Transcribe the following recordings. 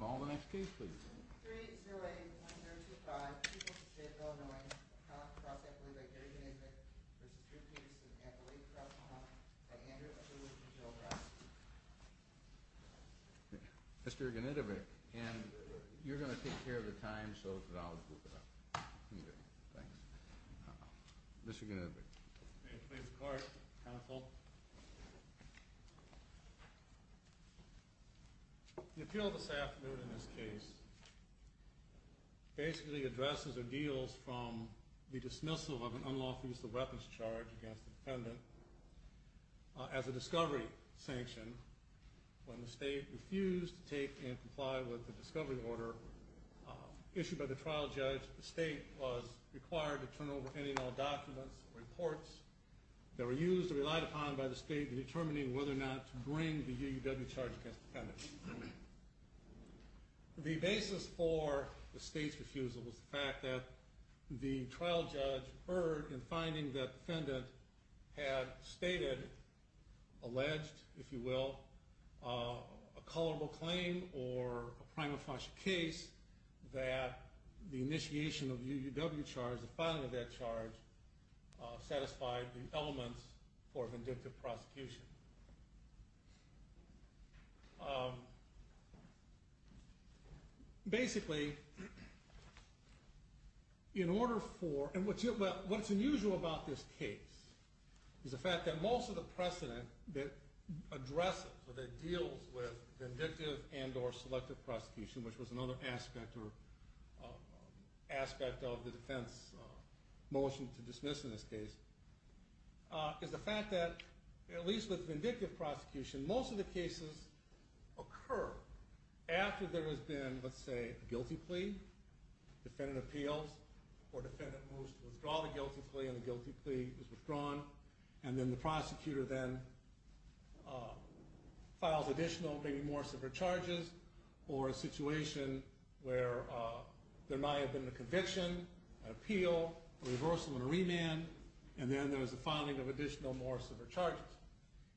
Call the next case please. 3-0-8-1-0-2-5 Chief of the State of Illinois, Cross-Employee by Gary Genedevich v. Peterson Employee, Cross-Employee by Andrew Mr. Genedevich and you're going to take care of the time so that I'll group it up. Thanks. Mr. Genedevich. May it please the court, counsel. The appeal this afternoon in this case basically addresses or deals from the dismissal of an unlawful use of weapons charge against a defendant as a discovery sanction when the state refused to take and comply with the discovery order issued by the trial judge. The state was required to turn over any and all documents or reports that were used or relied upon by the state in determining whether or not to bring the UUW charge against the defendant. The basis for the state's refusal was the fact that the trial judge heard in finding that the defendant had stated, alleged, if you will, a colorable claim or a prima facie case that the initiation of the UUW charge, the finding of that charge, satisfied the elements for vindictive prosecution. Basically, in order for... What's unusual about this case is the fact that most of the precedent that addresses or that deals with vindictive and or selective prosecution, which was another aspect of the defense motion to dismiss in this case, is the fact that, at least with vindictive prosecution, most of the cases occur after there has been, let's say, a guilty plea, defendant appeals, or defendant moves to withdraw the guilty plea and the guilty plea is withdrawn, and then the prosecutor then files additional, maybe more severe charges or a situation where there might have been a conviction, an appeal, a reversal and a remand, and then there was a filing of additional, more severe charges.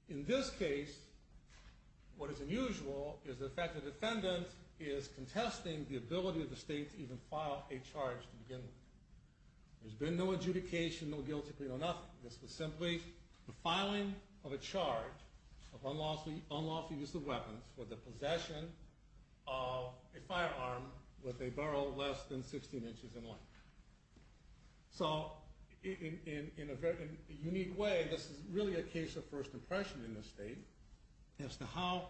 In this case, what is unusual is the fact that the defendant is contesting the ability of the state to even file a charge to begin with. There's been no adjudication, no guilty plea, no nothing. This was simply the filing of a charge of unlawful use of weapons for the possession of a firearm with a barrel less than 16 inches in length. So, in a very unique way, this is really a case of first impression in this state as to how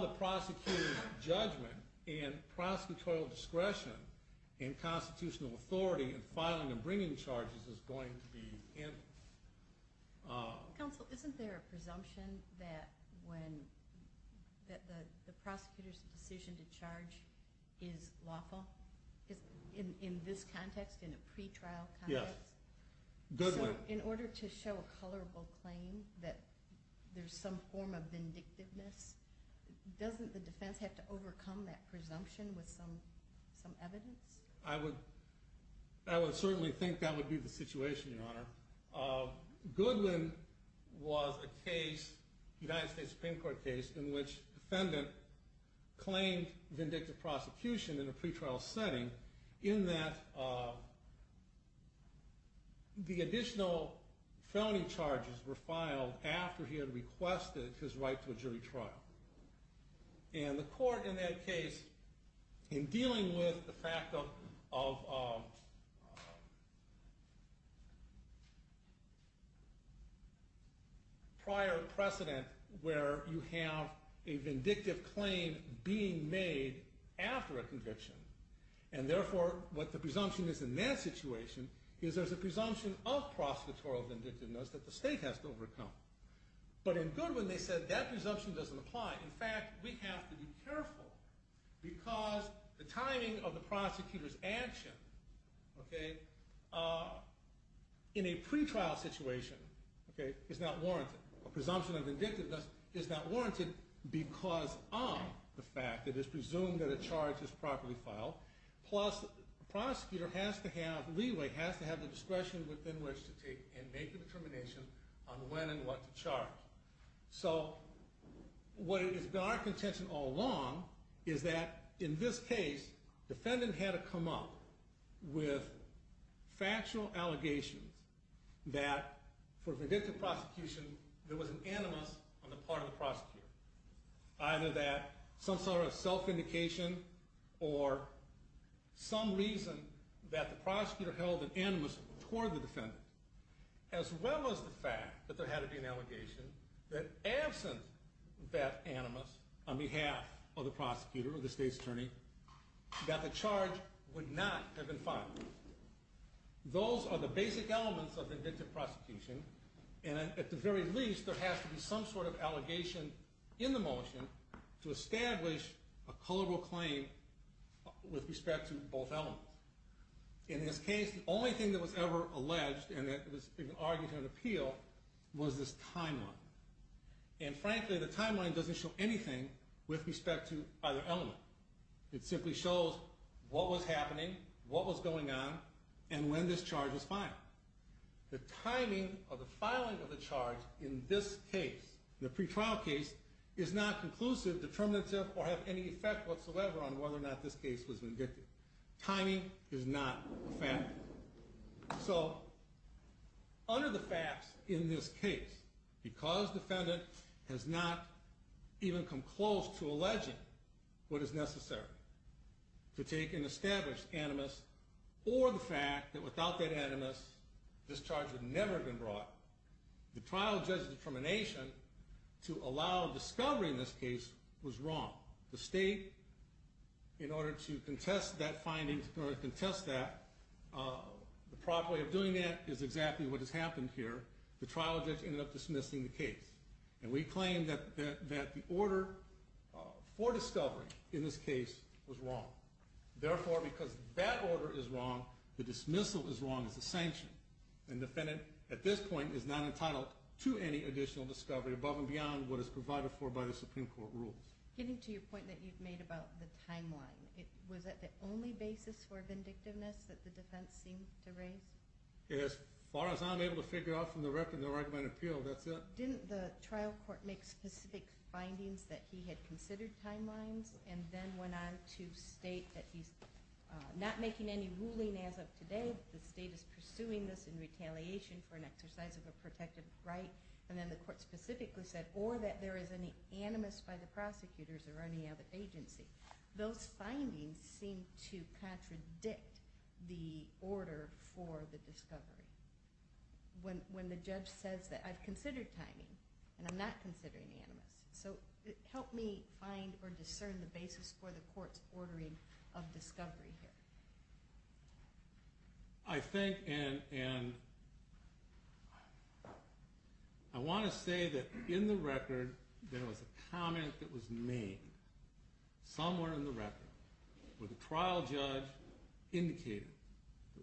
the prosecutor's judgment and prosecutorial discretion and constitutional authority in filing and bringing charges is going to be handled. Counsel, isn't there a presumption that when the prosecutor's decision to charge is lawful, in this context, in a pretrial context? Yes, good one. So, in order to show a colorable claim that there's some form of vindictiveness, doesn't the defense have to overcome that presumption with some evidence? I would certainly think that would be the situation, Your Honor. Goodwin was a case, United States Supreme Court case, in which defendant claimed vindictive prosecution in a pretrial setting in that the additional felony charges were filed after he had requested his right to a jury trial. And the court in that case, in dealing with the fact of prior precedent where you have a vindictive claim being made after a conviction, and therefore what the presumption is in that situation, is there's a presumption of prosecutorial vindictiveness that the state has to overcome. But in Goodwin they said that presumption doesn't apply. In fact, we have to be careful because the timing of the prosecutor's action in a pretrial situation is not warranted. A presumption of vindictiveness is not warranted because of the fact that it's presumed that a charge is properly filed, plus the prosecutor has to have, leeway, has to have the discretion within which to take and make a determination on when and what to charge. So, what has been our contention all along is that in this case, defendant had to come up with factual allegations that for vindictive prosecution there was an animus on the part of the prosecutor. Either that some sort of self-indication or some reason that the prosecutor held an animus toward the defendant. As well as the fact that there had to be an allegation that absent that animus on behalf of the prosecutor, of the state's attorney, that the charge would not have been filed. Those are the basic elements of vindictive prosecution. And at the very least, there has to be some sort of allegation in the motion to establish a culpable claim with respect to both elements. In this case, and that was argued in an appeal was this timeline. And frankly, the timeline doesn't show anything with respect to either element. It simply shows what was happening, what was going on, and when this charge was filed. The timing of the filing of the charge in this case, the pretrial case, is not conclusive, determinative, or have any effect whatsoever on whether or not this case was vindictive. Timing is not a fact. So, under the facts in this case, because defendant has not even come close to alleging what is necessary to take an established animus, or the fact that without that animus, this charge would never have been brought, the trial judge's determination to allow discovery in this case was wrong. The state, in order to contest that finding, in order to contest that, the proper way of doing that is exactly what has happened here. The trial judge ended up dismissing the case. And we claim that the order for discovery in this case was wrong. Therefore, because that order is wrong, the dismissal is wrong as a sanction. And defendant, at this point, is not entitled to any additional discovery above and beyond what is provided for by the Supreme Court rules. Getting to your point that you've made about the timeline, was that the only basis for vindictiveness that the defense seemed to raise? As far as I'm able to figure out from the record of the argument of appeal, that's it. Didn't the trial court make specific findings that he had considered timelines, and then went on to state that he's not making any ruling as of today, the state is pursuing this in retaliation for an exercise of a protected right, and then the court specifically said, or that there is an animus by the prosecutors or any other agency. Those findings seem to contradict the order for the discovery. When the judge says that I've considered timing, and I'm not considering the animus. So help me find or discern the basis for the court's ordering of discovery here. I think, and... I want to say that in the record, there was a comment that was made, somewhere in the record, where the trial judge indicated,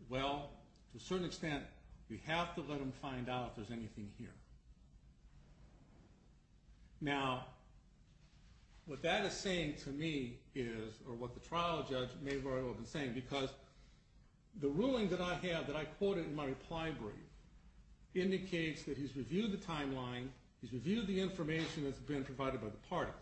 well, to a certain extent, we have to let them find out if there's anything here. Now, what that is saying to me is, or what the trial judge may very well have been saying, because the ruling that I have, that I quoted in my reply brief, indicates that he's reviewed the timeline, he's reviewed the information that's been provided by the parties.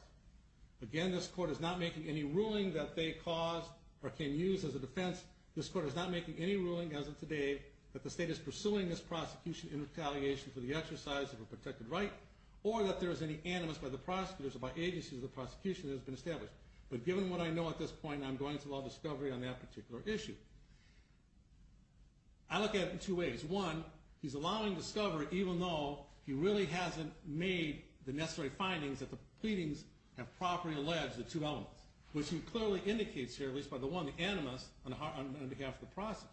Again, this court is not making any ruling that they caused or can use as a defense. This court is not making any ruling, as of today, that the state is pursuing this prosecution in retaliation for the exercise of a protected right, or that there is any animus by the prosecutors or by agencies of the prosecution that has been established. But given what I know at this point, I'm going to allow discovery on that particular issue. I look at it in two ways. One, he's allowing discovery, even though he really hasn't made the necessary findings that the pleadings have properly alleged the two elements, which he clearly indicates here, at least by the one, the animus, on behalf of the prosecution.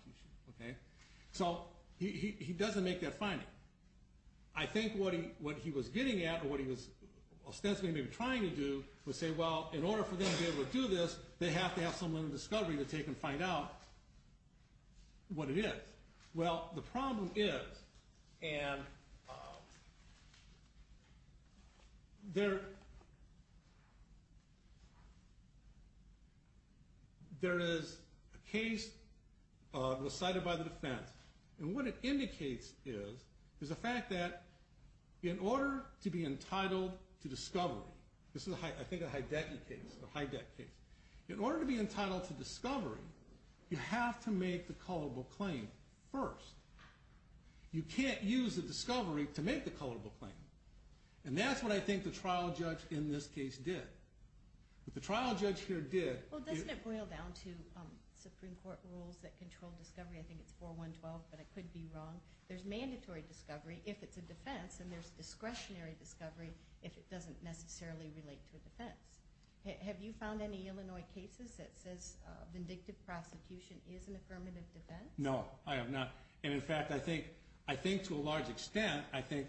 So, he doesn't make that finding. I think what he was getting at, or what he was ostensibly maybe trying to do, was say, well, in order for them to be able to do this, they have to have someone in discovery to take and find out what it is. Well, the problem is, and there is a case decided by the defense, and what it indicates is, is the fact that in order to be entitled to discovery, this is, I think, a Hydeck case, a Hydeck case. In order to be entitled to discovery, you have to make the culpable claim first. You can't use the discovery to make the culpable claim. And that's what I think the trial judge in this case did. What the trial judge here did... Well, doesn't it boil down to Supreme Court rules that control discovery? I think it's 4.1.12, but I could be wrong. There's mandatory discovery if it's a defense, and there's discretionary discovery if it doesn't necessarily relate to a defense. Have you found any Illinois cases that says vindictive prosecution is an affirmative defense? No, I have not. And in fact, I think to a large extent, I think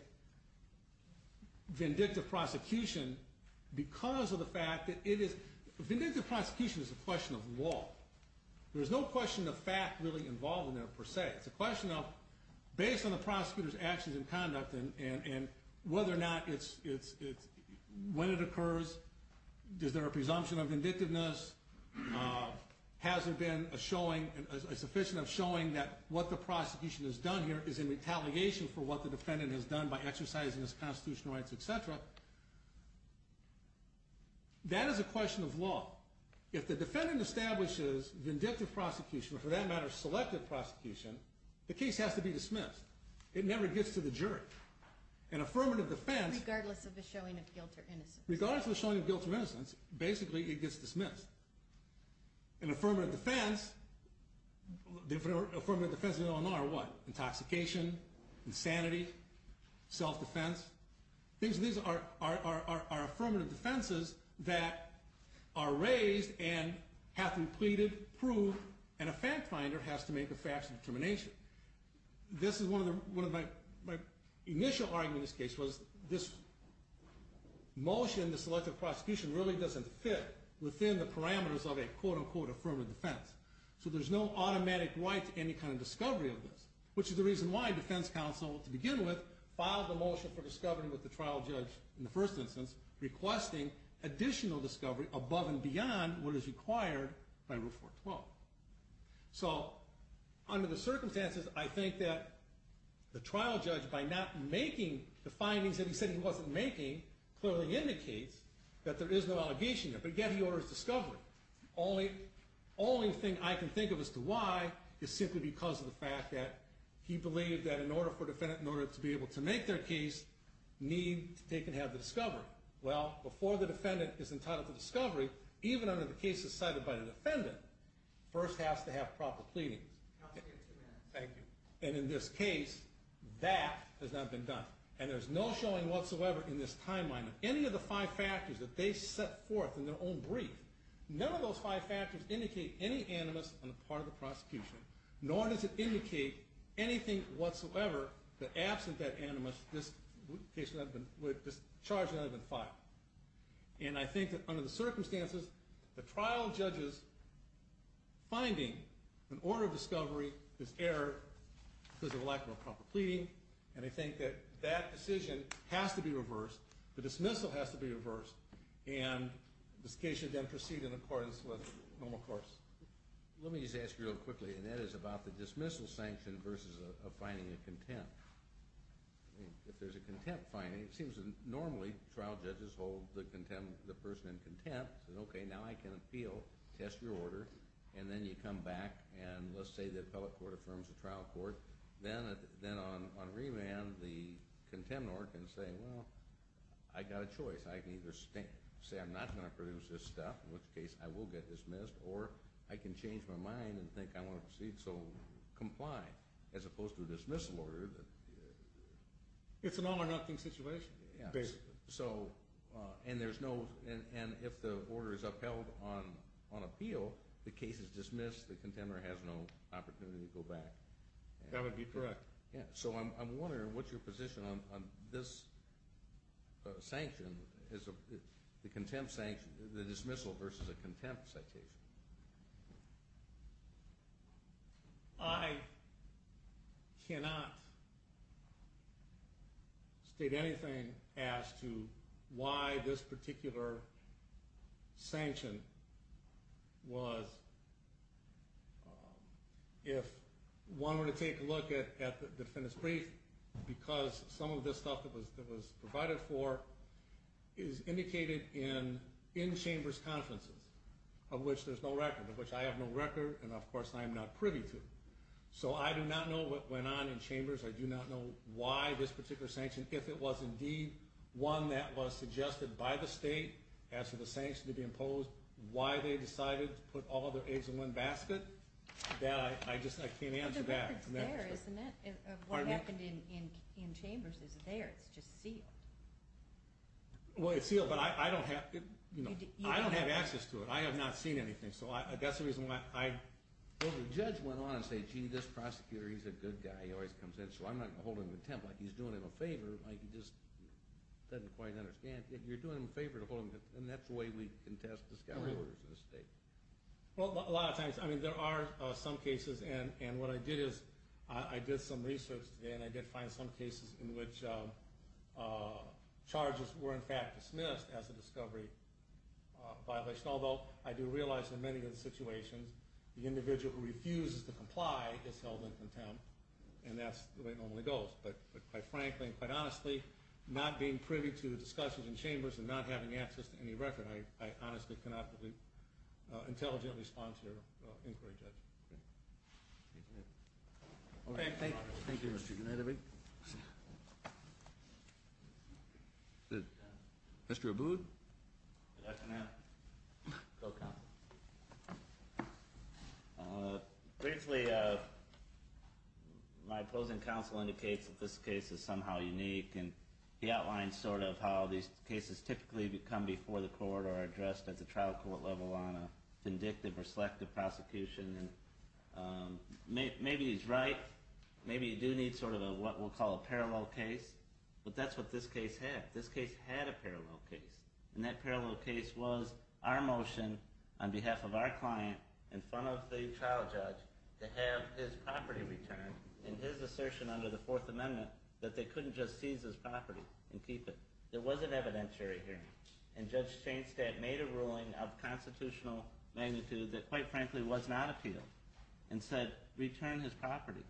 vindictive prosecution, because of the fact that it is... Vindictive prosecution is a question of law. There's no question of fact really involved in there, per se. It's a question of based on the prosecutor's actions and conduct and whether or not it's... When it occurs, is there a presumption of vindictiveness? Has there been a showing, a sufficient showing that what the prosecution has done here is in retaliation for what the defendant has done by exercising his constitutional rights, etc.? That is a question of law. If the defendant establishes vindictive prosecution, or for that matter, selective prosecution, the case has to be dismissed. It never gets to the jury. An affirmative defense... Regardless of the showing of guilt or innocence. Regardless of the showing of guilt or innocence, basically, it gets dismissed. An affirmative defense... The affirmative defenses in Illinois are what? Intoxication, insanity, self-defense. These are affirmative defenses that are raised and have to be pleaded, proved, and a fact-finder has to make a factual determination. This is one of my... My initial argument in this case was this motion, the selective prosecution, really doesn't fit within the parameters of a quote-unquote affirmative defense. So there's no automatic right to any kind of discovery of this, which is the reason why defense counsel, to begin with, filed the motion for discovery with the trial judge in the first instance, requesting additional discovery above and beyond what is required by Rule 412. So under the circumstances, I think that the trial judge, by not making the findings that he said he wasn't making, clearly indicates that there is no allegation there. But yet he orders discovery. Only thing I can think of as to why is simply because of the fact that he believed that in order for a defendant, in order to be able to make their case, they can have the discovery. Well, before the defendant is entitled to discovery, even under the cases cited by the defendant, first has to have proper pleadings. Counsel, you have two minutes. Thank you. And in this case, that has not been done. And there's no showing whatsoever in this timeline that any of the five factors that they set forth in their own brief, none of those five factors indicate any animus on the part of the prosecution, nor does it indicate anything whatsoever that absent that animus, this charge would not have been filed. And I think that under the circumstances, the trial judge's finding in order of discovery is error because of a lack of a proper pleading, and I think that that decision has to be reversed, the dismissal has to be reversed, and this case should then proceed in accordance with normal course. Let me just ask you real quickly, and that is about the dismissal sanction versus a finding of contempt. If there's a contempt finding, it seems that normally trial judges hold the person in contempt and say, okay, now I can appeal, test your order, and then you come back, and let's say the appellate court affirms the trial court, then on remand, the contemnor can say, well, I got a choice. I can either say I'm not going to produce this stuff, in which case I will get dismissed, or I can change my mind and think I want to proceed, so comply, as opposed to a dismissal order. It's an all or nothing situation, basically. So, and there's no, and if the order is upheld on appeal, the case is dismissed, the contemnor has no opportunity to go back. That would be correct. So I'm wondering, what's your position on this sanction, the contempt sanction, the dismissal versus a contempt citation? I cannot state anything as to why this particular sanction was, if one were to take a look at the defendant's brief, because some of this stuff that was provided for is indicated in chambers' conferences, of which there's no record, of which I have no record, and of course I am not privy to. So I do not know what went on in chambers. I do not know why this particular sanction, if it was indeed one that was suggested by the state as to the sanction to be imposed, why they decided to put all their eggs in one basket. That, I just, I can't answer that. But the record's there, isn't it? Pardon me? What happened in chambers is there. It's just sealed. Well, it's sealed, but I don't have, you know, I don't have access to it. I have not seen anything, so that's the reason why I... Well, the judge went on and said, gee, this prosecutor, he's a good guy. He always comes in, so I'm not going to hold him in contempt. Like, he's doing him a favor. Like, he just doesn't quite understand. You're doing him a favor to hold him in contempt, and that's the way we contest discovery orders in the state. Well, a lot of times, I mean, there are some cases, and what I did is I did some research today, and I did find some cases in which charges were in fact dismissed as a discovery violation, although I do realize in many of the situations the individual who refuses to comply is held in contempt, and that's the way it normally goes. But quite frankly and quite honestly, not being privy to discussions in chambers and not having access to any record, I honestly cannot intelligently respond to your inquiry, Judge. Thank you. Okay, thank you. Thank you, Mr. Gennady. Mr. Abood. Good afternoon. Go, counsel. Briefly, my opposing counsel indicates that this case is somehow unique, and he outlines sort of how these cases typically come before the court or are addressed at the trial court level on a vindictive or selective prosecution, and maybe he's right. Maybe you do need sort of what we'll call a parallel case, but that's what this case had. This case had a parallel case, and that parallel case was our motion on behalf of our client in front of the trial judge to have his property returned, and his assertion under the Fourth Amendment that they couldn't just seize his property and keep it. It wasn't evidentiary here, and Judge Chainstead made a ruling of constitutional magnitude that quite frankly was not appealed and said return his property.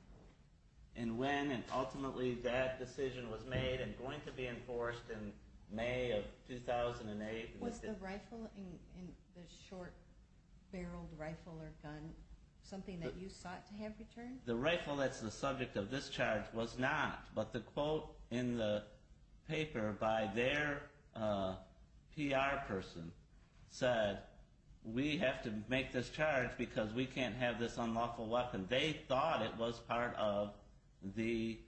And when and ultimately that decision was made and going to be enforced in May of 2008. Was the rifle, the short-barreled rifle or gun, something that you sought to have returned? The rifle that's the subject of this charge was not, but the quote in the paper by their PR person said, we have to make this charge because we can't have this unlawful weapon. They thought it was part of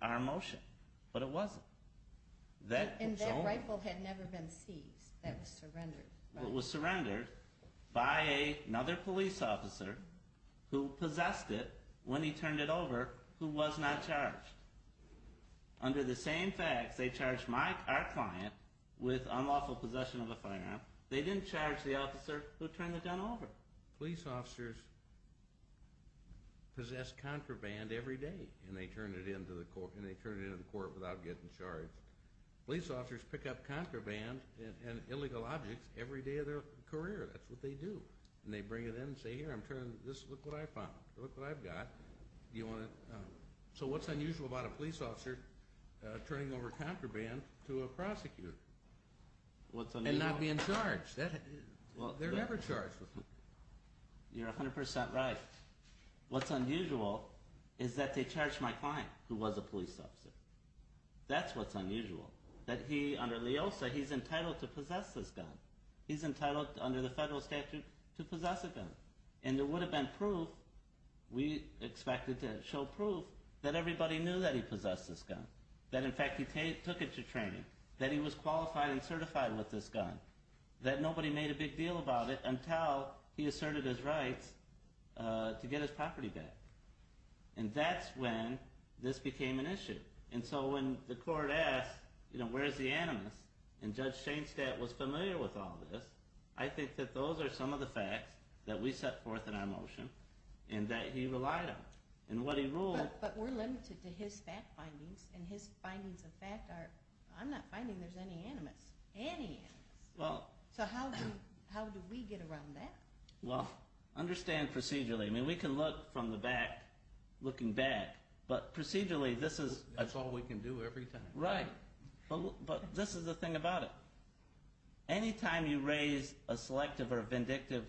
our motion, but it wasn't. And that rifle had never been seized. That was surrendered. It was surrendered by another police officer who possessed it when he turned it over who was not charged. Under the same facts, they charged our client with unlawful possession of a firearm. They didn't charge the officer who turned the gun over. Police officers possess contraband every day, and they turn it into the court without getting charged. Police officers pick up contraband and illegal objects every day of their career. That's what they do. And they bring it in and say, here, look what I found. Look what I've got. So what's unusual about a police officer turning over contraband to a prosecutor? And not being charged. They're never charged. You're 100% right. What's unusual is that they charged my client, who was a police officer. That's what's unusual. Under LEOSA, he's entitled to possess this gun. He's entitled, under the federal statute, to possess a gun. And there would have been proof. We expected to show proof that everybody knew that he possessed this gun. That, in fact, he took it to training. That he was qualified and certified with this gun. That nobody made a big deal about it until he asserted his rights to get his property back. And that's when this became an issue. And so when the court asked, where's the animus? And Judge Shainstat was familiar with all this. I think that those are some of the facts that we set forth in our motion and that he relied on. And what he ruled... But we're limited to his fact findings. And his findings of fact are... I'm not finding there's any animus. Any animus. So how do we get around that? Well, understand procedurally. We can look from the back, looking back. But procedurally, this is... That's all we can do every time. Right. But this is the thing about it. Anytime you raise a selective or vindictive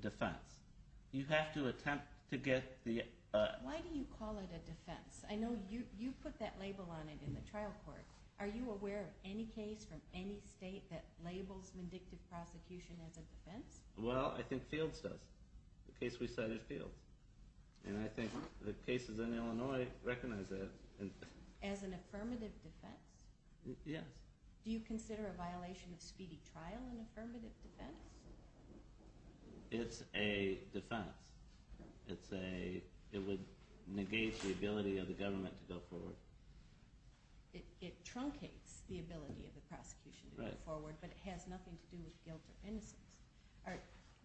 defense, you have to attempt to get the... Why do you call it a defense? I know you put that label on it in the trial court. Are you aware of any case from any state that labels vindictive prosecution as a defense? Well, I think Fields does. The case we cited, Fields. And I think the cases in Illinois recognize that. As an affirmative defense? Yes. Do you consider a violation of speedy trial an affirmative defense? It's a defense. It would negate the ability of the government to go forward. It truncates the ability of the prosecution to go forward, but it has nothing to do with guilt or innocence.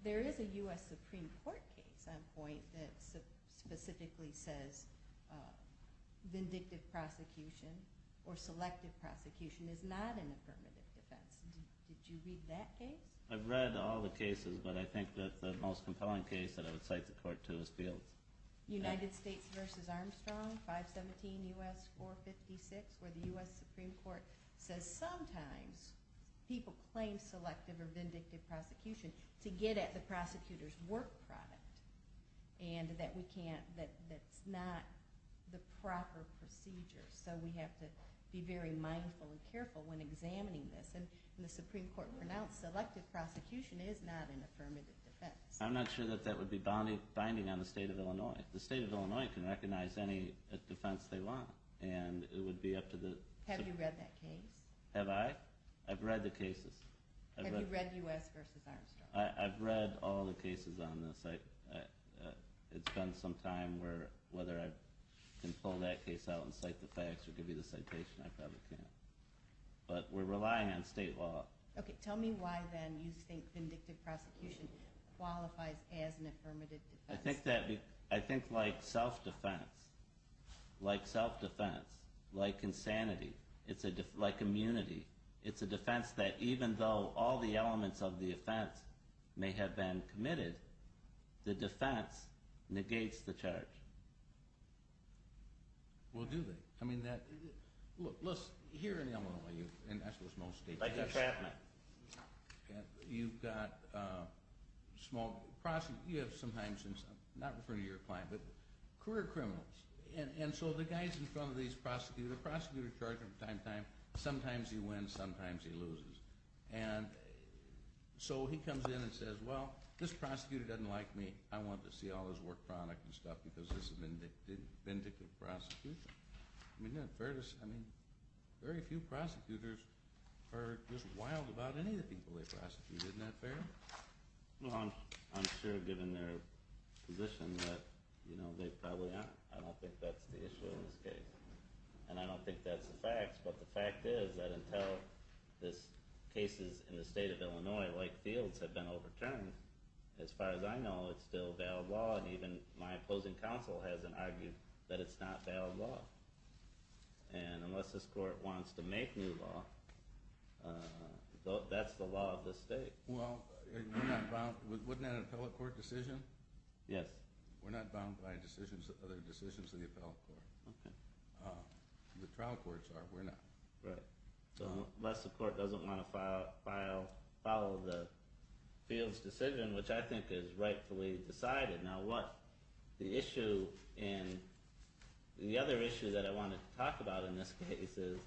There is a U.S. Supreme Court case on point that specifically says vindictive prosecution or selective prosecution is not an affirmative defense. Did you read that case? I've read all the cases, but I think that the most compelling case that I would cite the court to is Fields. United States v. Armstrong, 517 U.S. 456, where the U.S. Supreme Court says sometimes people claim selective or vindictive prosecution to get at the prosecutor's work product and that's not the proper procedure. So we have to be very mindful and careful when examining this. And the Supreme Court pronounced selective prosecution is not an affirmative defense. I'm not sure that that would be binding on the state of Illinois. The state of Illinois can recognize any defense they want, and it would be up to the... Have you read that case? Have I? I've read the cases. Have you read U.S. v. Armstrong? I've read all the cases on this. It's been some time where, whether I can pull that case out and cite the facts or give you the citation, I probably can't. But we're relying on state law. Okay, tell me why, then, you think vindictive prosecution qualifies as an affirmative defense. I think like self-defense, like self-defense, like insanity, like immunity, it's a defense that even though all the elements of the offense may have been committed, the defense negates the charge. Well, do they? I mean, look, here in Illinois, and I suppose most states do this. Like entrapment. You've got small... You have sometimes, not referring to your client, but career criminals. And so the guys in front of these prosecutors, the prosecutor's charge at the time, sometimes he wins, sometimes he loses. And so he comes in and says, well, this prosecutor doesn't like me. I want to see all his work product and stuff because this is vindictive prosecution. I mean, isn't that fair to say? I mean, very few prosecutors are just wild about any of the people they prosecute. Isn't that fair? Well, I'm sure, given their position, that they probably aren't. I don't think that's the issue in this case. And I don't think that's the facts, but the fact is that until this case is in the state of Illinois, like fields have been overturned, as far as I know, it's still valid law. And even my opposing counsel hasn't argued that it's not valid law. And unless this court wants to make new law, that's the law of this state. Well, we're not bound... Wasn't that an appellate court decision? Yes. We're not bound by decisions, other decisions of the appellate court. Okay. The trial courts are, we're not. Right. Unless the court doesn't want to follow the field's decision, which I think is rightfully decided. Now, what the issue in... The other issue that I wanted to talk about in this case is,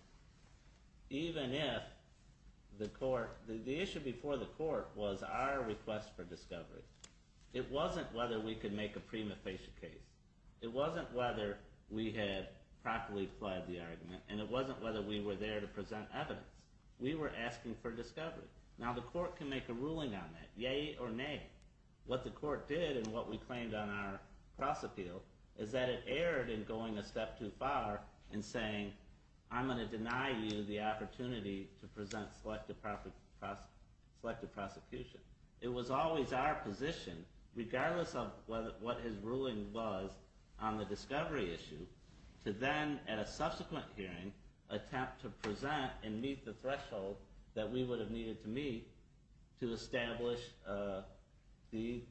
even if the court... The issue before the court was our request for discovery. It wasn't whether we could make a prima facie case. It wasn't whether we had properly fled the argument, and it wasn't whether we were there to present evidence. We were asking for discovery. Now, the court can make a ruling on that, yay or nay. What the court did, and what we claimed on our cross-appeal, is that it erred in going a step too far and saying, I'm going to deny you the opportunity to present selective prosecution. It was always our position, regardless of what his ruling was, on the discovery issue, to then, at a subsequent hearing, attempt to present and meet the threshold that we would have needed to meet to establish the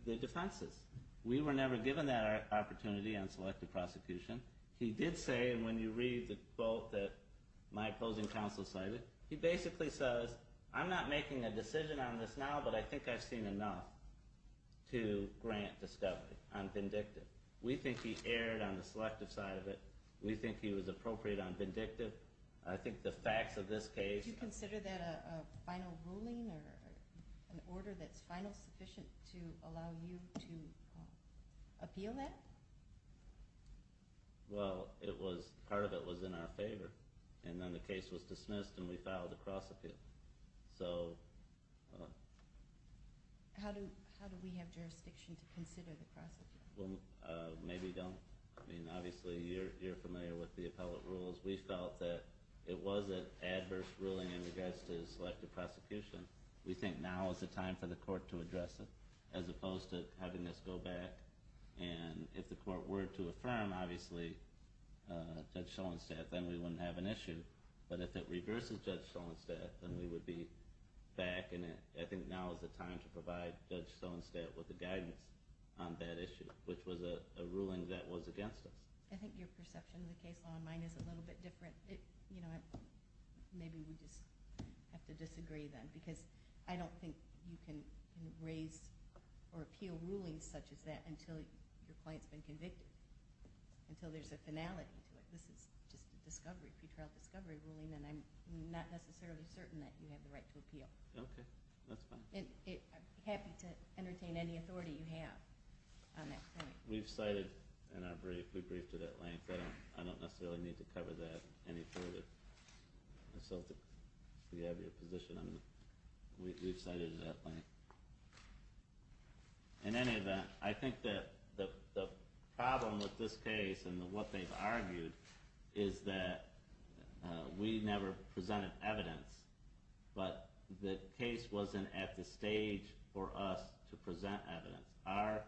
defenses. We were never given that opportunity on selective prosecution. He did say, and when you read the quote that my opposing counsel cited, he basically says, I'm not making a decision on this now, but I think I've seen enough to grant discovery. I'm vindictive. We think he erred on the selective side of it. We think he was appropriate on vindictive. I think the facts of this case... Do you consider that a final ruling or an order that's final sufficient to allow you to appeal that? Well, part of it was in our favor, and then the case was dismissed and we filed a cross-appeal. How do we have jurisdiction to consider the cross-appeal? Maybe don't. I mean, obviously, you're familiar with the appellate rules. We felt that it was an adverse ruling in regards to selective prosecution. We think now is the time for the court to address it, as opposed to having us go back and, if the court were to affirm, obviously, Judge Soenstedt, then we wouldn't have an issue. But if it reverses Judge Soenstedt, then we would be back, and I think now is the time to provide Judge Soenstedt with the guidance on that issue, which was a ruling that was against us. I think your perception of the case law and mine is a little bit different. Maybe we just have to disagree then, because I don't think you can raise or appeal rulings such as that until your client's been convicted, until there's a finality to it. This is just a discovery, a pre-trial discovery ruling, and I'm not necessarily certain that you have the right to appeal. Okay. That's fine. I'd be happy to entertain any authority you have on that point. We've cited, in our brief, we briefed it at length. I don't necessarily need to cover that any further. So if you have your position, we've cited it at length. In any event, I think that the problem with this case and what they've argued is that we never presented evidence, but the case wasn't at the stage for us to present evidence.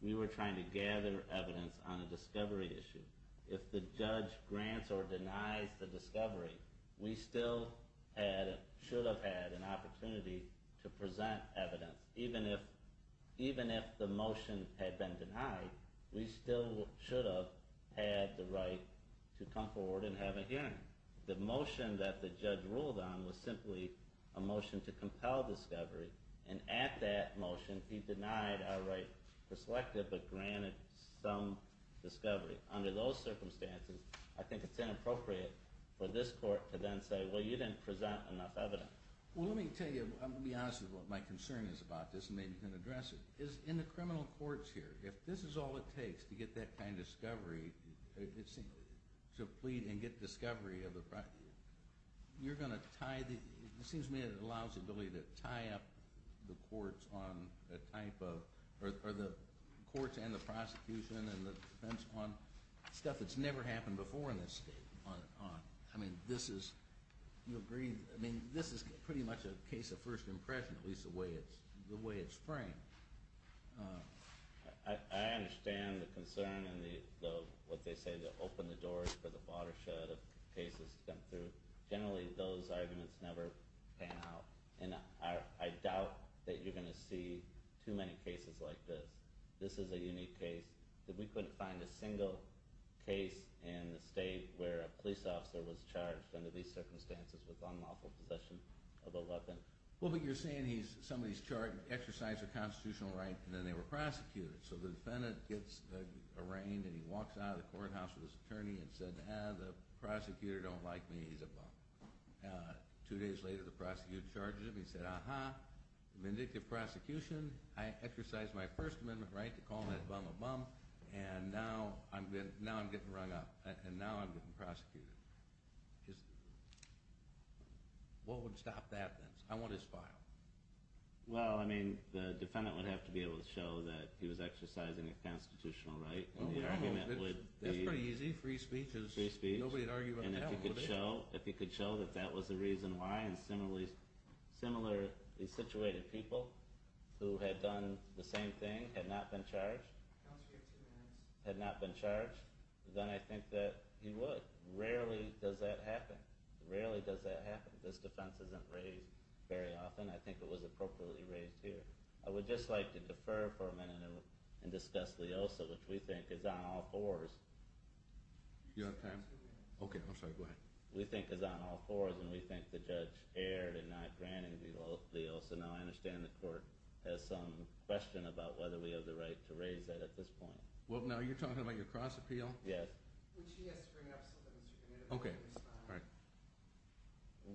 We were trying to gather evidence on a discovery issue. If the judge grants or denies the discovery, we still should have had an opportunity to present evidence. Even if the motion had been denied, we still should have had the right to come forward and have a hearing. The motion that the judge ruled on was simply a motion to compel discovery, and at that motion, he denied our right to select it but granted some discovery. Under those circumstances, I think it's inappropriate for this court to then say, well, you didn't present enough evidence. Well, let me tell you, I'm going to be honest with what my concern is about this and maybe can address it. In the criminal courts here, if this is all it takes to get that kind of discovery, to plead and get discovery, you're going to tie the... It seems to me it allows the ability to tie up the courts on a type of... Or the courts and the prosecution and the defense on stuff that's never happened before in this state. I mean, this is... You agree? I mean, this is pretty much a case of first impression, at least the way it's framed. I understand the concern and what they say to open the doors for the watershed of cases to come through. Generally, those arguments never pan out. And I doubt that you're going to see too many cases like this. This is a unique case that we couldn't find a single case in the state where a police officer was charged under these circumstances with unlawful possession of a weapon. Well, but you're saying somebody's exercised a constitutional right and then they were prosecuted. So the defendant gets arraigned and he walks out of the courthouse with his attorney and said, ah, the prosecutor don't like me. He's a bum. Two days later, the prosecutor charges him. He said, aha, vindictive prosecution. I exercised my First Amendment right to call that bum a bum, and now I'm getting rung up. And now I'm getting prosecuted. What would stop that then? I want his file. Well, I mean, the defendant would have to be able to show that he was exercising a constitutional right. That's pretty easy. Free speech. Nobody would argue about that. And if he could show that that was the reason why, and similarly situated people who had done the same thing had not been charged, had not been charged, then I think that he would. Rarely does that happen. Rarely does that happen. This defense isn't raised very often. I think it was appropriately raised here. I would just like to defer for a minute and discuss Leosa, which we think is on all fours. You don't have time? Okay, I'm sorry, go ahead. We think it's on all fours, and we think the judge erred in not granting Leosa. Now, I understand the court has some question about whether we have the right to raise that at this point. Well, now, you're talking about your cross-appeal? Yes. Which he has to bring up so that Mr. Kennedy can respond.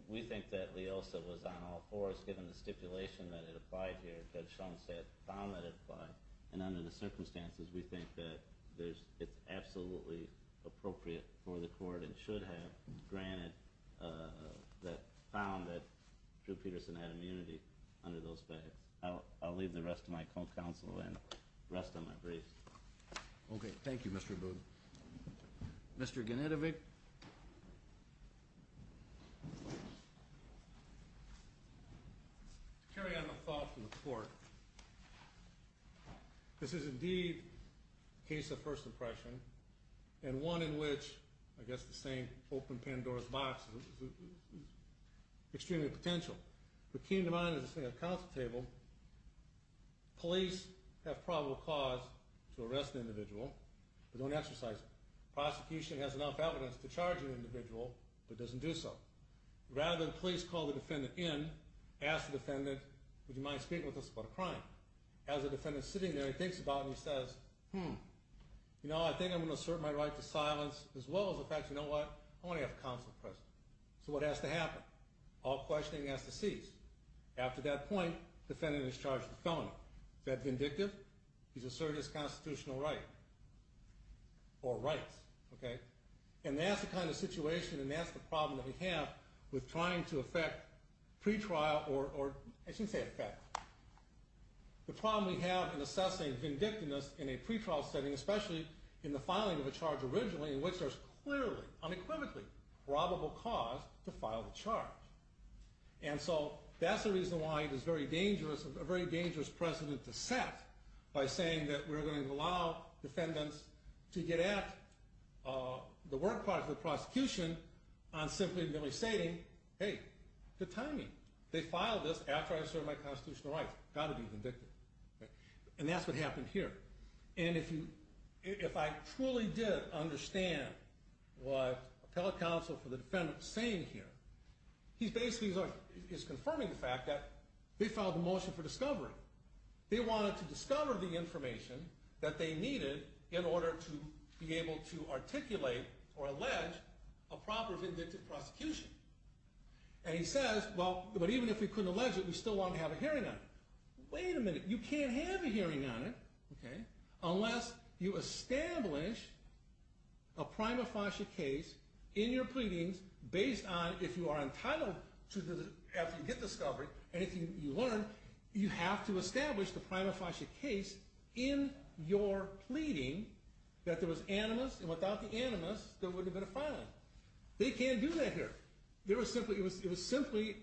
We think that Leosa was on all fours given the stipulation that it applied here that Shonstadt found that it applied, and under the circumstances, we think that it's absolutely appropriate for the court and should have granted that found that Drew Peterson had immunity under those facts. I'll leave the rest to my counsel and rest on my briefs. Okay, thank you, Mr. Boone. Mr. Genetovic? Mr. Kennedy? To carry out my thoughts in the court, this is indeed a case of first impression and one in which, I guess the same open-pen doors box is extremely potential. What came to mind is this thing at the counsel table. Police have probable cause to arrest an individual but don't exercise it. Prosecution has enough evidence to charge an individual but doesn't do so. Rather than police call the defendant in, ask the defendant, would you mind speaking with us about a crime? As the defendant's sitting there, he thinks about it and he says, hmm, you know, I think I'm going to assert my right to silence as well as the fact, you know what, I want to have counsel present. So what has to happen? All questioning has to cease. After that point, defendant is charged with felony. Is that vindictive? He's asserted his constitutional right or rights, okay? And that's the kind of situation and that's the problem that we have with trying to affect pretrial or, I shouldn't say affect, the problem we have in assessing vindictiveness in a pretrial setting, especially in the filing of a charge originally in which there's clearly, unequivocally, probable cause to file the charge. And so that's the reason why it is very dangerous, a very dangerous precedent to set by saying that we're going to allow defendants to get at the work part of the prosecution on simply merely stating, hey, good timing. They filed this after I asserted my constitutional rights. Got to be vindictive. And that's what happened here. And if you, if I truly did understand what appellate counsel for the defendant was saying here, he's basically, he's confirming the fact that they filed the motion for discovery. They wanted to discover the information that they needed in order to be able to articulate or allege a proper vindictive prosecution. And he says, well, but even if we couldn't allege it, we still won't have a hearing on it. Wait a minute. You can't have a hearing on it, okay, unless you establish a prima facie case in your pleadings based on if you are entitled to the, after you get discovery, and if you learn, you have to establish the prima facie case in your pleading that there was animus, and without the animus, there wouldn't have been a filing. They can't do that here. There was simply, it was simply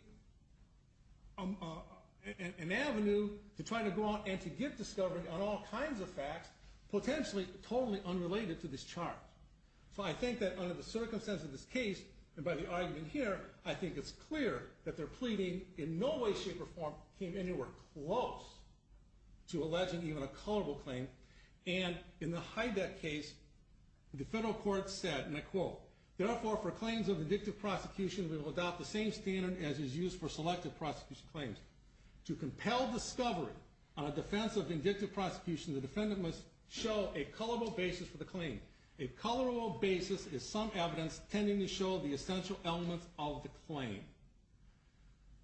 an avenue to try to go out and to get discovery on all kinds of facts potentially totally unrelated to this charge. So I think that under the circumstances of this case, and by the argument here, I think it's clear that their pleading in no way, shape, or form came anywhere close to alleging even a colorable claim, and in the Heideck case, the federal court said, and I quote, therefore for claims of indicative prosecution, we will adopt the same standard as is used for selective prosecution claims. To compel discovery on a defense of indicative prosecution, the defendant must show a colorable basis for the claim. A colorable basis is some evidence tending to show the essential elements of the claim.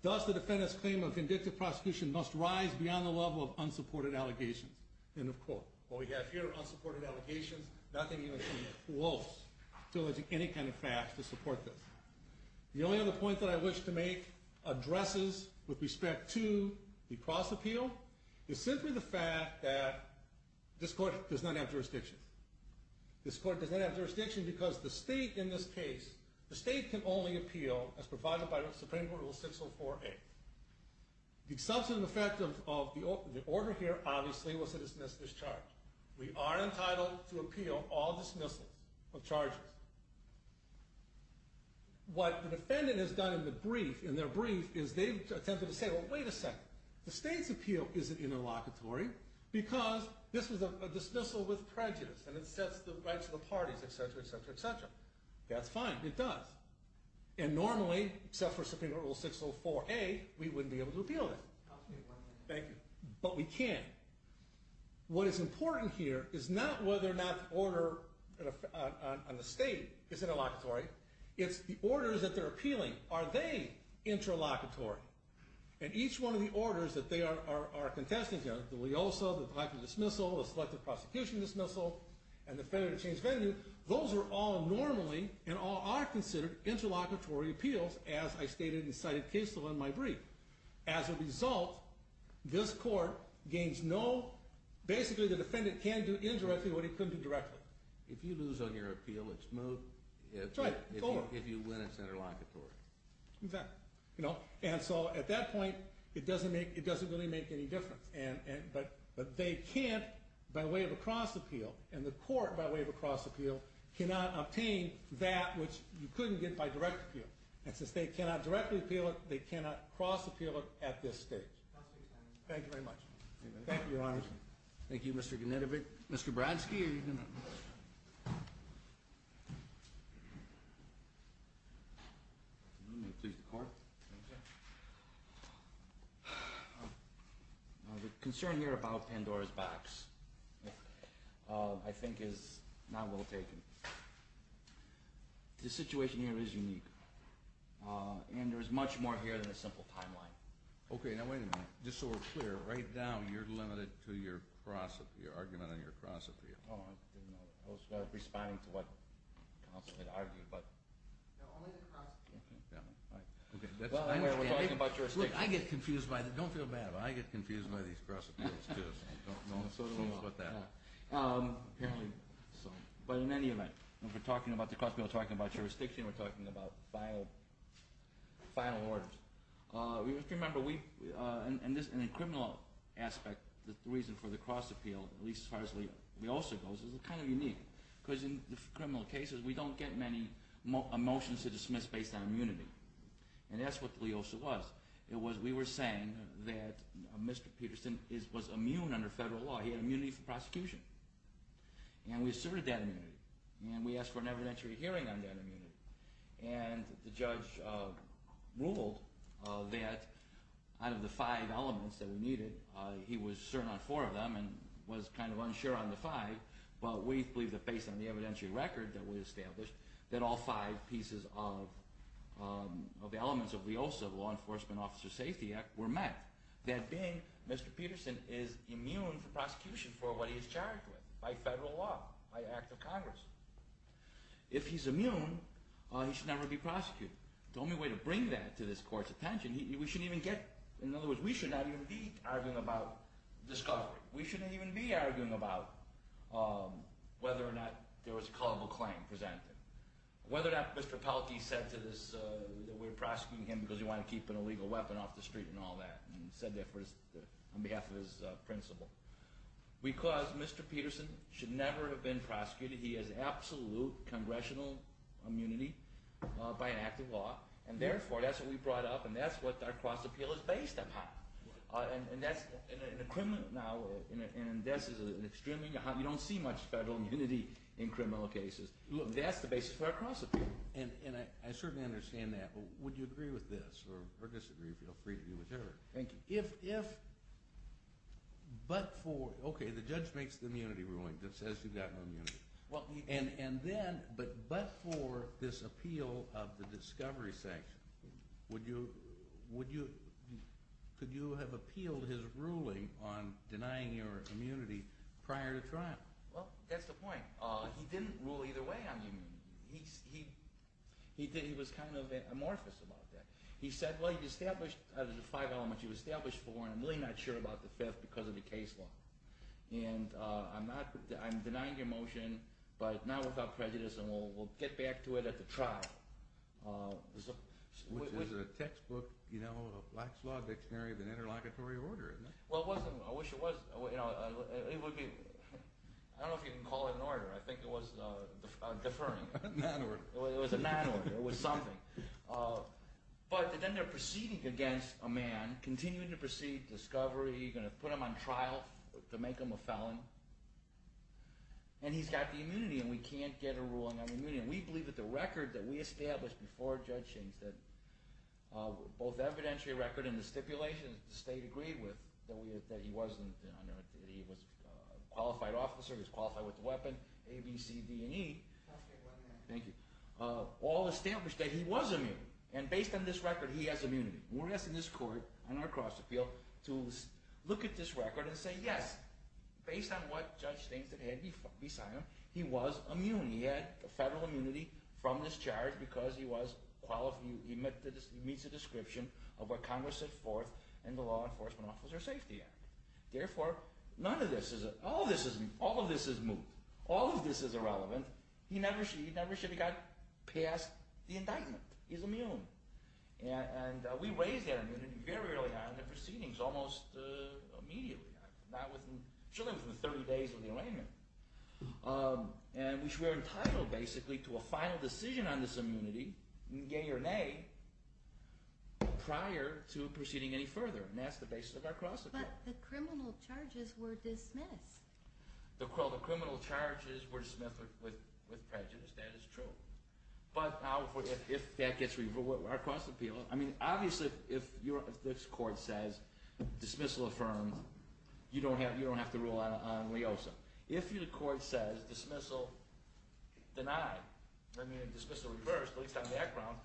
Thus the defendant's claim of indicative prosecution must rise beyond the level of unsupported allegations. End of quote. What we have here are unsupported allegations, nothing even close to alleging any kind of facts to support this. The only other point that I wish to make addresses with respect to the cross appeal is simply the fact that this court does not have jurisdiction. This court does not have jurisdiction because the state in this case, the state can only appeal as provided by Supreme Court Rule 604A. The substantive effect of the order here obviously was to dismiss this charge. We are entitled to appeal all dismissals of charges. What the defendant has done in their brief is they've attempted to say, well wait a second, the state's appeal isn't interlocutory because this was a dismissal with prejudice and it sets the rights of the parties, et cetera, et cetera, et cetera. That's fine, it does. And normally, except for Supreme Court Rule 604A, we wouldn't be able to appeal that. Thank you. But we can. What is important here is not whether or not the order on the state is interlocutory, it's the orders that they're appealing. Are they interlocutory? And each one of the orders that they are contesting here, the leosa, the selective dismissal, the selective prosecution dismissal, and the failure to change venue, those are all normally, and all are considered, interlocutory appeals as I stated in my brief. As a result, this court gains no, basically the defendant can do indirectly what he couldn't do directly. If you lose on your appeal, it's moved. That's right, it's over. If you win, it's interlocutory. Exactly. And so at that point, it doesn't really make any difference. But they can't, by way of a cross appeal, and the court, by way of a cross appeal, cannot obtain that which you couldn't get by direct appeal. And since they cannot directly appeal it, they cannot cross appeal it at this stage. Thank you very much. Thank you, Your Honor. Thank you, Mr. Genetovic. Mr. Bradsky, are you going to... The concern here about Pandora's Box, I think is not well taken. The situation here is unique. And there's much more here than a simple timeline. Okay, now wait a minute. Just so we're clear, right now you're limited to your argument on your cross appeal. Oh, I didn't know that. I was responding to what counsel had argued, but... No, only the cross appeal. Well, anyway, we're talking about jurisdiction. Look, I get confused by this. Don't feel bad, but I get confused by these cross appeals, too. So don't get confused with that. Apparently so. But in any event, we're talking about the cross appeal, we're talking about jurisdiction, we're talking about final orders. If you remember, in the criminal aspect, the reason for the cross appeal, at least as far as Leosa goes, is kind of unique. Because in criminal cases, we don't get many motions to dismiss based on immunity. And that's what Leosa was. It was, we were saying that Mr. Peterson was immune under federal law. He had immunity from prosecution. And we asserted that immunity. And we asked for an evidentiary hearing on that immunity. And the judge ruled that out of the five elements that we needed, he was certain on four of them and was kind of unsure on the five, but we believe that based on the evidentiary record that we established, that all five pieces of the elements of Leosa, the Law Enforcement Officer Safety Act, were met. That being, Mr. Peterson is immune from prosecution for what he is charged with by federal law, by an act of Congress. If he's immune, he should never be prosecuted. The only way to bring that to this court's attention, we shouldn't even get, in other words, we should not even be arguing about discovery. We shouldn't even be arguing about whether or not there was a culpable claim presented. Whether or not Mr. Pelkey said to this, that we're prosecuting him because he wanted to keep an illegal weapon off the street and all that. And he said that on behalf of his principal. Because Mr. Peterson should never have been prosecuted. He has absolute congressional immunity by an act of law. And therefore, that's what we brought up and that's what our cross-appeal is based upon. And that's, in a criminal, now, and this is an extremely, you don't see much federal immunity in criminal cases. Look, that's the basis for our cross-appeal. And I certainly understand that. Would you agree with this? Or disagree, feel free to do whatever. Thank you. If, if, but for, okay, the judge makes the immunity ruling that says he's got immunity. Well, and, and then, but, but for this appeal of the discovery section, would you, would you, could you have appealed his ruling on denying your immunity prior to trial? Well, that's the point. He didn't rule either way on immunity. He, he, he did, he was kind of amorphous about that. He said, well, he established out of the five elements he was established for, and I'm really not sure about the fifth because of the case law. And, I'm not, I'm denying your motion, but not without prejudice and we'll, we'll get back to it at the trial. Which is a textbook, you know, a Black's Law dictionary of an interlocutory order, isn't it? Well, it wasn't, I wish it was, you know, it would be, I don't know if you can call it an order. I think it was deferring. A non-order. It was a non-order. It was something. But, then they're proceeding against a man, continuing to proceed discovery, going to put him on trial to make him a felon. And, he's got the immunity and we can't get a ruling on immunity. And, we believe that the record that we established before Judge Shain said, both evidentiary record and the stipulation that the state agreed with, that we, that he wasn't, that he was a qualified officer, he was qualified with the weapon, A, B, C, D, and E. Thank you. All established that he was immune. And, based on this record, he has immunity. And, we're asking this court, on our cross-appeal, to look at this record and say, yes, based on what Judge Stain had beside him, he was immune. He had federal immunity from discharge because he was qualified, he meets the description of what Congress set forth in the Law Enforcement Officer Safety Act. Therefore, none of this is, all of this is, all of this is moot. All of this is irrelevant. He never should, he never should have got past the indictment. He's immune. And, we raised that immunity very early on in the proceedings, almost immediately. Surely, within 30 days of the arraignment. And, we're entitled, basically, to a final decision on this immunity, yea or nay, prior to proceeding any further. And, that's the basis of our cross-appeal. But, the criminal charges were dismissed. Well, the criminal charges were dismissed with prejudice. That is true. But, if that gets revoked, our cross-appeal, I mean, obviously, if this court says, dismissal affirmed, you don't have, you don't have to rule on LEOSA. If the court says, dismissal denied, I mean, dismissal reversed, at least on background,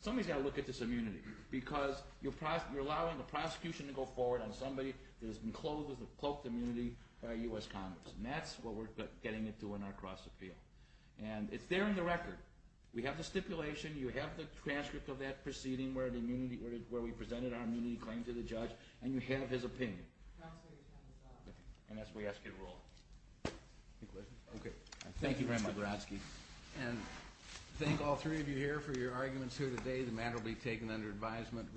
somebody's got to look at this immunity. Because, you're allowing the prosecution to go forward on somebody that has been clothed with a cloaked immunity by U.S. Congress. And, that's what we're getting into in our cross-appeal. And, it's there in the record. We have the stipulation. You have the transcript of that proceeding where the immunity, where we presented our immunity claim to the judge. And, you have his opinion. And, that's what we ask you to rule on. Any questions? Okay. Thank you very much. Thank you, Mr. Grotsky. And, thank all three of you here for your arguments here today. The matter will be taken under advisement,